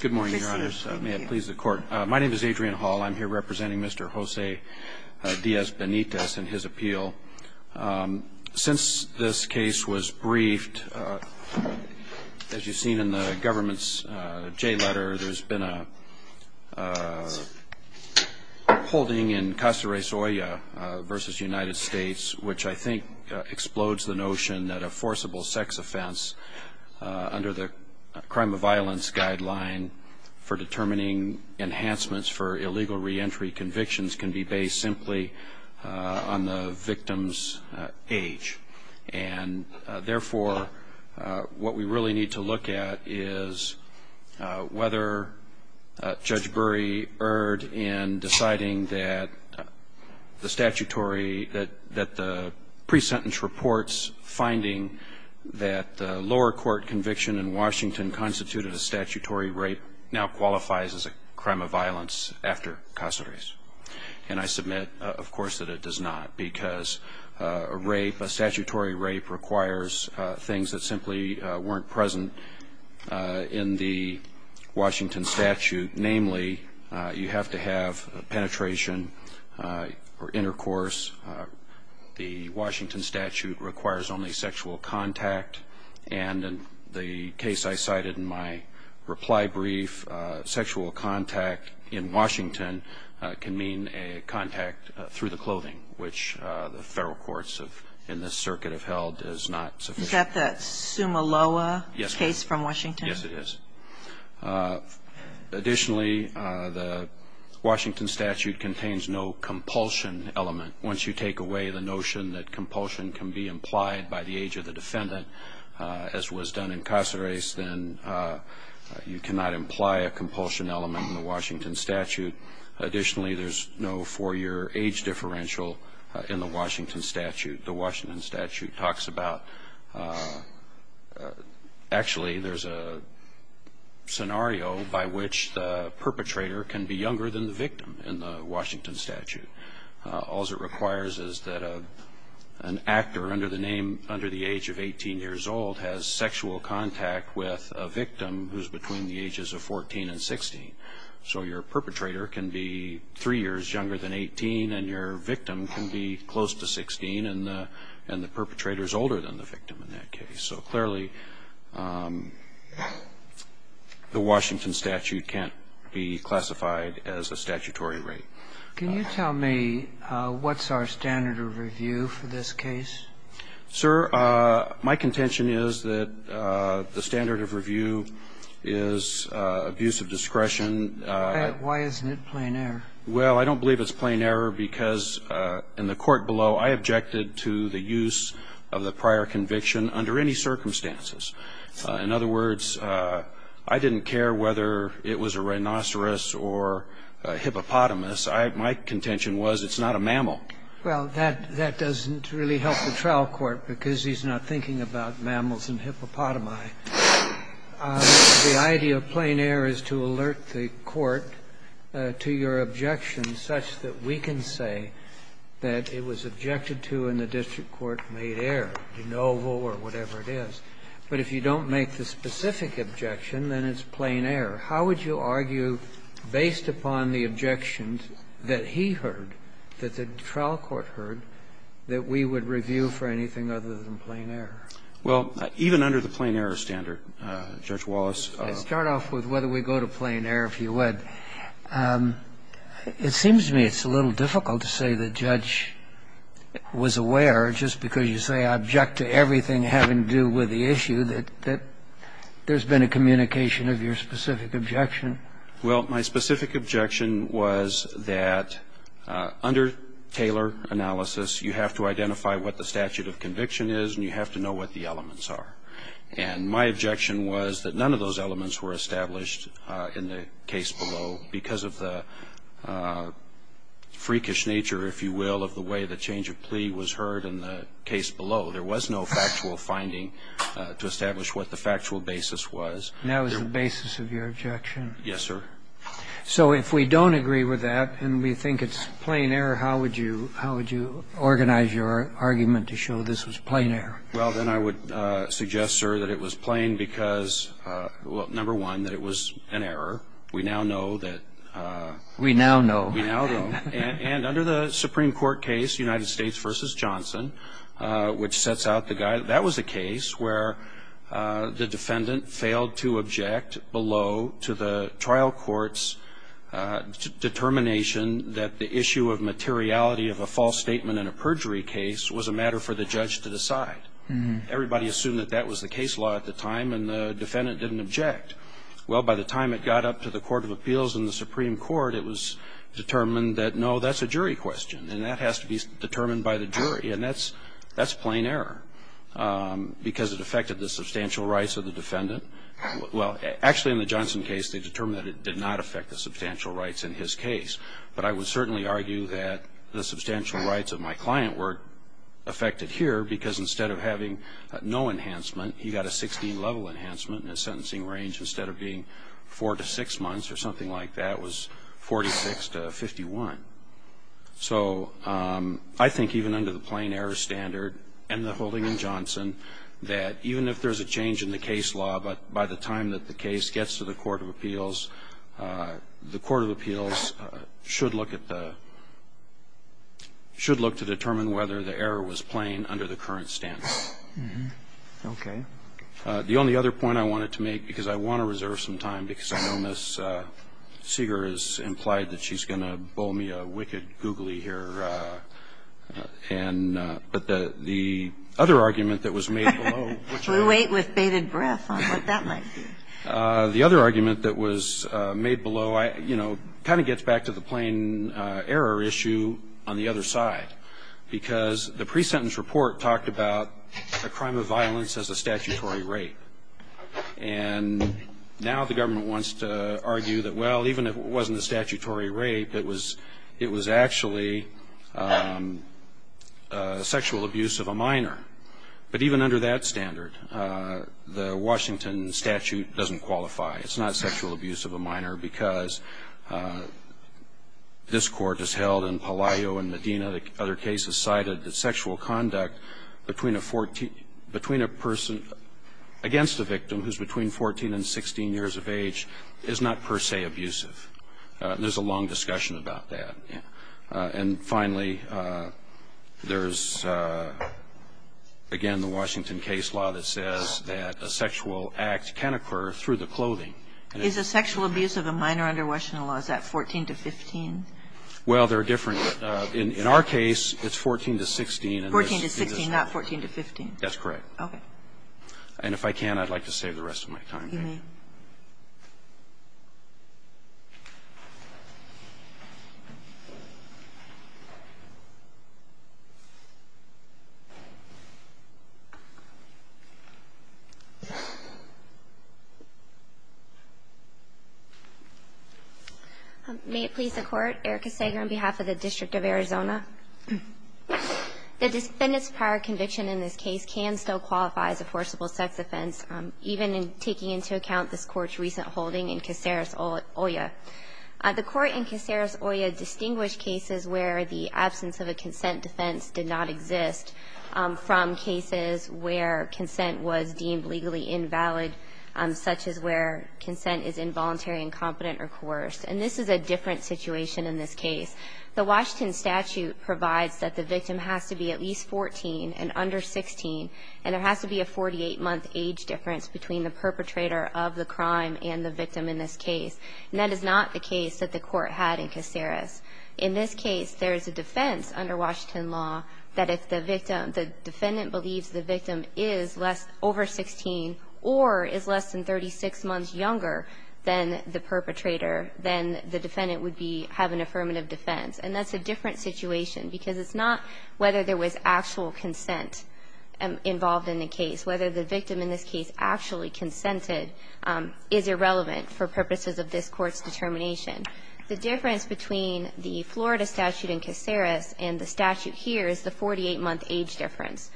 Good morning your honors. May it please the court. My name is Adrian Hall. I'm here representing Mr. Jose Diaz-Benitez and his appeal. Since this case was briefed as you've seen in the government's J letter there's been a holding in Castares-Olla versus United States which I think explodes the notion that a guideline for determining enhancements for illegal reentry convictions can be based simply on the victim's age and therefore what we really need to look at is whether Judge Bury erred in deciding that the statutory that that the pre-sentence reports finding that the lower court conviction in Washington constituted a statutory rape now qualifies as a crime of violence after Castares and I submit of course that it does not because a rape, a statutory rape requires things that simply weren't present in the Washington statute namely you have to have penetration or intercourse. The Washington statute requires only sexual contact and in the case I cited in my reply brief sexual contact in Washington can mean a contact through the clothing which the federal courts have in this circuit have held is not sufficient. Is that the Sumaloa case from Washington? Yes it is. Additionally the Washington statute contains no compulsion can be implied by the age of the defendant as was done in Castares then you cannot imply a compulsion element in the Washington statute. Additionally there's no four-year age differential in the Washington statute. The Washington statute talks about actually there's a scenario by which the perpetrator can be younger than the victim in the Washington statute. All it requires is that an actor under the name under the age of 18 years old has sexual contact with a victim who's between the ages of 14 and 16. So your perpetrator can be three years younger than 18 and your victim can be close to 16 and the perpetrator is older than the victim in that case. So clearly the Washington statute can't be classified as a statutory rape. Can you tell me what's our standard of review for this case? Sir, my contention is that the standard of review is abuse of discretion. Why isn't it plain error? Well, I don't believe it's plain error because in the court below I objected to the use of the prior conviction under any circumstances. In other words, I didn't care whether it was a rhinoceros or a hippopotamus. My contention was it's not a mammal. Well, that doesn't really help the trial court because he's not thinking about mammals and hippopotami. The idea of plain error is to alert the Court to your objection such that we can say that it was objected to and the district court made error, de novo or whatever it is. But if you don't make the specific objection, then it's not a plain error. How would you argue, based upon the objections that he heard, that the trial court heard, that we would review for anything other than plain error? Well, even under the plain error standard, Judge Wallace. I'll start off with whether we go to plain error, if you would. It seems to me it's a little difficult to say the judge was aware just because you say I object to everything having to do with the issue that there's been a communication of your specific objection. Well, my specific objection was that under Taylor analysis, you have to identify what the statute of conviction is and you have to know what the elements are. And my objection was that none of those elements were established in the case below because of the freakish nature, if you will, of the way the change of plea was heard in the case below. There was no factual finding to establish what the factual basis was. And that was the basis of your objection? Yes, sir. So if we don't agree with that and we think it's plain error, how would you organize your argument to show this was plain error? Well, then I would suggest, sir, that it was plain because, well, number one, that it was an error. We now know that... We now know. We now know. And under the Supreme Court case, United States v. Johnson, which sets failed to object below to the trial court's determination that the issue of materiality of a false statement in a perjury case was a matter for the judge to decide. Everybody assumed that that was the case law at the time and the defendant didn't object. Well, by the time it got up to the Court of Appeals in the Supreme Court, it was determined that, no, that's a jury question and that has to be determined by the jury. And that's plain error because it affected the substantial rights of the defendant. Well, actually, in the Johnson case, they determined that it did not affect the substantial rights in his case. But I would certainly argue that the substantial rights of my client were affected here because instead of having no enhancement, he got a 16-level enhancement in his sentencing range instead of being 4 to 6 months or something like that. It was 46 to 51. So I think even under the plain error standard and the holding in Johnson, that even if there's a change in the case law, but by the time that the case gets to the Court of Appeals, the Court of Appeals should look at the – should look to determine whether the error was plain under the current standard. Okay. The only other point I wanted to make, because I want to reserve some time because I know Ms. Seeger has implied that she's going to bowl me a wicked googly here. And – but the other argument that was made below, which I – We wait with bated breath on what that might be. The other argument that was made below, you know, kind of gets back to the plain error issue on the other side, because the pre-sentence report talked about a crime of violence as a statutory rape. And now the government wants to argue that, well, even if it wasn't a statutory rape, it was – it was actually sexual abuse of a minor. But even under that standard, the Washington statute doesn't qualify. It's not sexual abuse of a minor because this Court has held in Palaio and Medina, the other cases cited that sexual conduct between a 14 – between a person against a victim who's between 14 and 16 years of age is not per se abusive. There's a long discussion about that. And finally, there's, again, the Washington case law that says that a sexual act can occur through the clothing. Is a sexual abuse of a minor under Washington law, is that 14 to 15? Well, they're different. In our case, it's 14 to 16. 14 to 16, not 14 to 15? That's correct. Okay. And if I can, I'd like to save the rest of my time. You may. May it please the Court, Erica Sager on behalf of the District of Arizona. The defendant's prior conviction in this case can still qualify as a forcible sex offense, even taking into account this Court's recent holding in Caceres, Oya. The Court in Caceres, Oya distinguished cases where the absence of a consent defense did not exist from cases where consent was deemed legally invalid, such as where consent is involuntary, incompetent, or coerced. And this is a different situation in this case. The Washington statute provides that the victim has to be at least 14 and under 16, and there has to be a 48-month age difference between the perpetrator of the crime and the victim in this case. And that is not the case that the Court had in Caceres. In this case, there is a defense under Washington law that if the victim, the defendant believes the victim is over 16 or is less than 36 months younger than the perpetrator, then the defendant would have an affirmative defense. And that's a different situation because it's not whether there was actual consent. Involved in the case, whether the victim in this case actually consented is irrelevant for purposes of this Court's determination. The difference between the Florida statute in Caceres and the statute here is the 48-month age difference.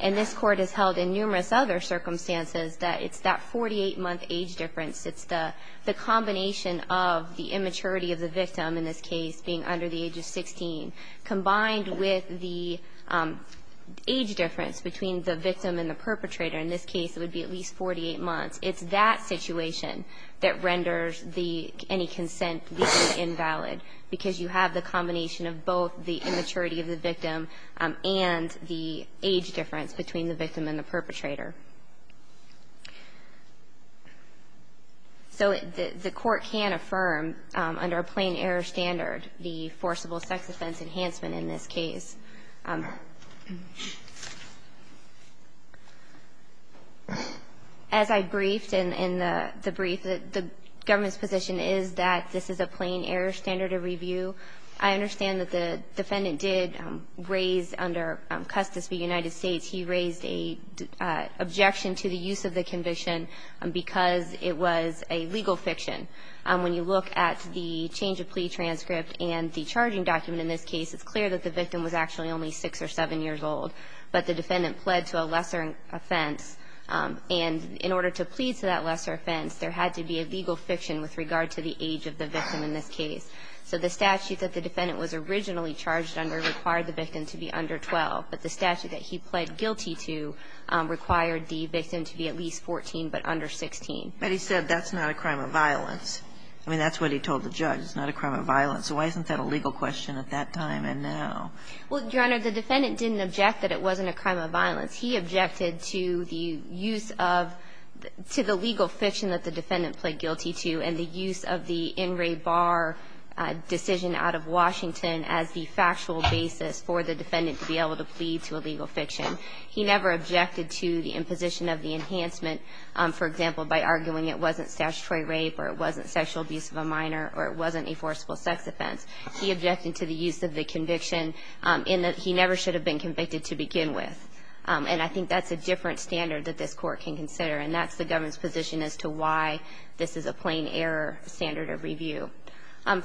And this Court has held in numerous other circumstances that it's that 48-month age difference. It's the combination of the immaturity of the victim, in this case, being under the age of 16, combined with the age difference between the victim and the perpetrator. In this case, it would be at least 48 months. It's that situation that renders any consent legally invalid, because you have the combination of both the immaturity of the victim and the age difference between the victim and the perpetrator. So the Court can affirm under a plain-error standard the forcible sex-offense enhancement in this case. As I briefed in the brief, the government's position is that this is a plain-error standard of review. I understand that the defendant did raise, under Custis v. United States, he raised a plain-error standard of review. Objection to the use of the conviction because it was a legal fiction. When you look at the change-of-plea transcript and the charging document in this case, it's clear that the victim was actually only 6 or 7 years old, but the defendant pled to a lesser offense. And in order to plead to that lesser offense, there had to be a legal fiction with regard to the age of the victim in this case. So the statute that the defendant was originally charged under required the victim to be under 12, but the statute that he pled guilty to required the victim to be at least 14 but under 16. But he said that's not a crime of violence. I mean, that's what he told the judge. It's not a crime of violence. So why isn't that a legal question at that time and now? Well, Your Honor, the defendant didn't object that it wasn't a crime of violence. He objected to the use of the legal fiction that the defendant pled guilty to and the use of the in-ray bar decision out of Washington as the factual basis for the defendant to be able to plead to a legal fiction. He never objected to the imposition of the enhancement, for example, by arguing it wasn't statutory rape or it wasn't sexual abuse of a minor or it wasn't a forcible sex offense. He objected to the use of the conviction in that he never should have been convicted to begin with. And I think that's a different standard that this Court can consider, and that's the government's position as to why this is a plain error standard of review.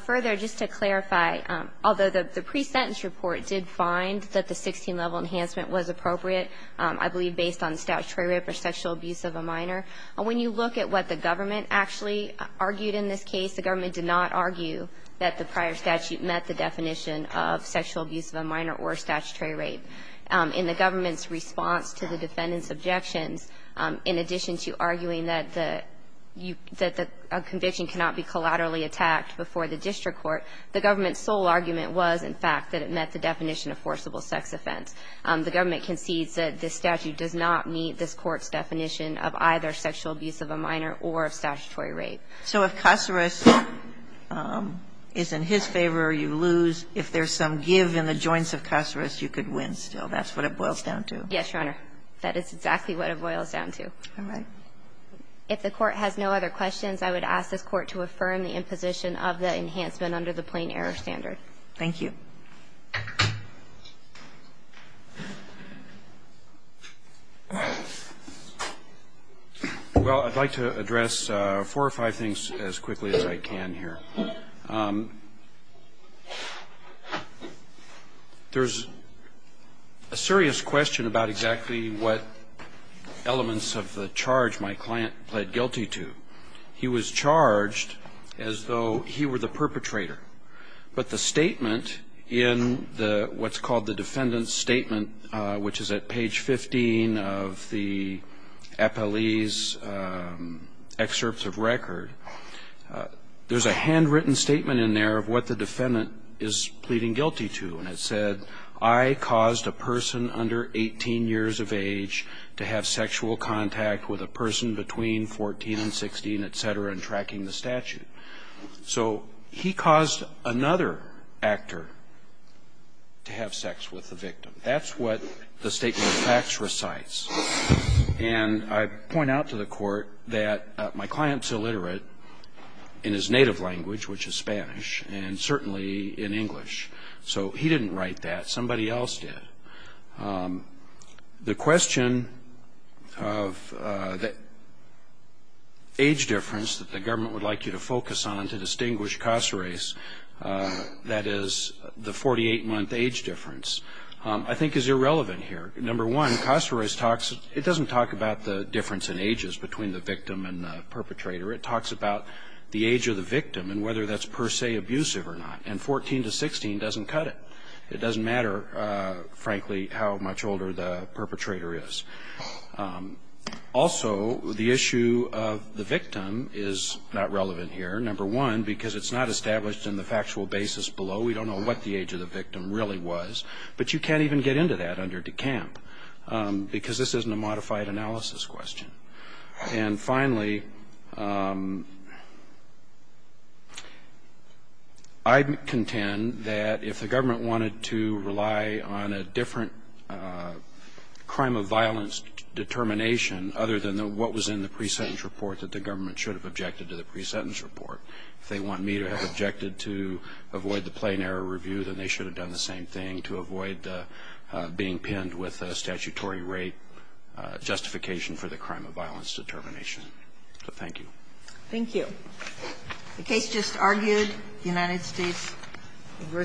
Further, just to clarify, although the pre-sentence report did find that the 16-level enhancement was appropriate, I believe based on statutory rape or sexual abuse of a minor, when you look at what the government actually argued in this case, the government did not argue that the prior statute met the definition of sexual abuse of a minor or statutory rape. In the government's response to the defendant's objections, in addition to arguing that a conviction cannot be collaterally attacked before the district court, the government's sole argument was, in fact, that it met the definition of forcible sex offense. The government concedes that this statute does not meet this Court's definition of either sexual abuse of a minor or of statutory rape. So if Caceres is in his favor, you lose. If there's some give in the joints of Caceres, you could win still. That's what it boils down to. Yes, Your Honor. That is exactly what it boils down to. All right. If the Court has no other questions, I would ask this Court to affirm the imposition of the enhancement under the plain error standard. Thank you. Well, I'd like to address four or five things as quickly as I can here. There's a serious question about exactly what elements of the charge my client pled guilty to. He was charged as though he were the perpetrator. But the statement in what's called the defendant's statement, which is at page 15 of the APLE's excerpts of record, there's a handwritten statement in there of what the defendant is pleading guilty to. And it said, I caused a person under 18 years of age to have sexual contact with a person between 14 and 16, et cetera, in tracking the statute. So he caused another actor to have sex with the victim. That's what the statement of facts recites. And I point out to the Court that my client's illiterate in his native language, which is Spanish, and certainly in English. So he didn't write that. Somebody else did. The question of the age difference that the government would like you to focus on to distinguish Caceres, that is the 48-month age difference, I think is irrelevant here. Number one, Caceres talks, it doesn't talk about the difference in ages between the victim and the perpetrator. It talks about the age of the victim and whether that's per se abusive or not. And 14 to 16 doesn't cut it. It doesn't matter, frankly, how much older the perpetrator is. Also, the issue of the victim is not relevant here, number one, because it's not established in the factual basis below. We don't know what the age of the victim really was. But you can't even get into that under DeCamp because this isn't a modified analysis question. And finally, I contend that if the government wanted to rely on a different crime of violence determination other than what was in the pre-sentence report that the government should have objected to the pre-sentence report. If they want me to have objected to avoid the plain error review, then they should have done the same thing to avoid being pinned with a statutory rate justification for the crime of violence determination. So thank you. Thank you. The case just argued, United States v.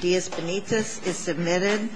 Diaz Benitez, is submitted.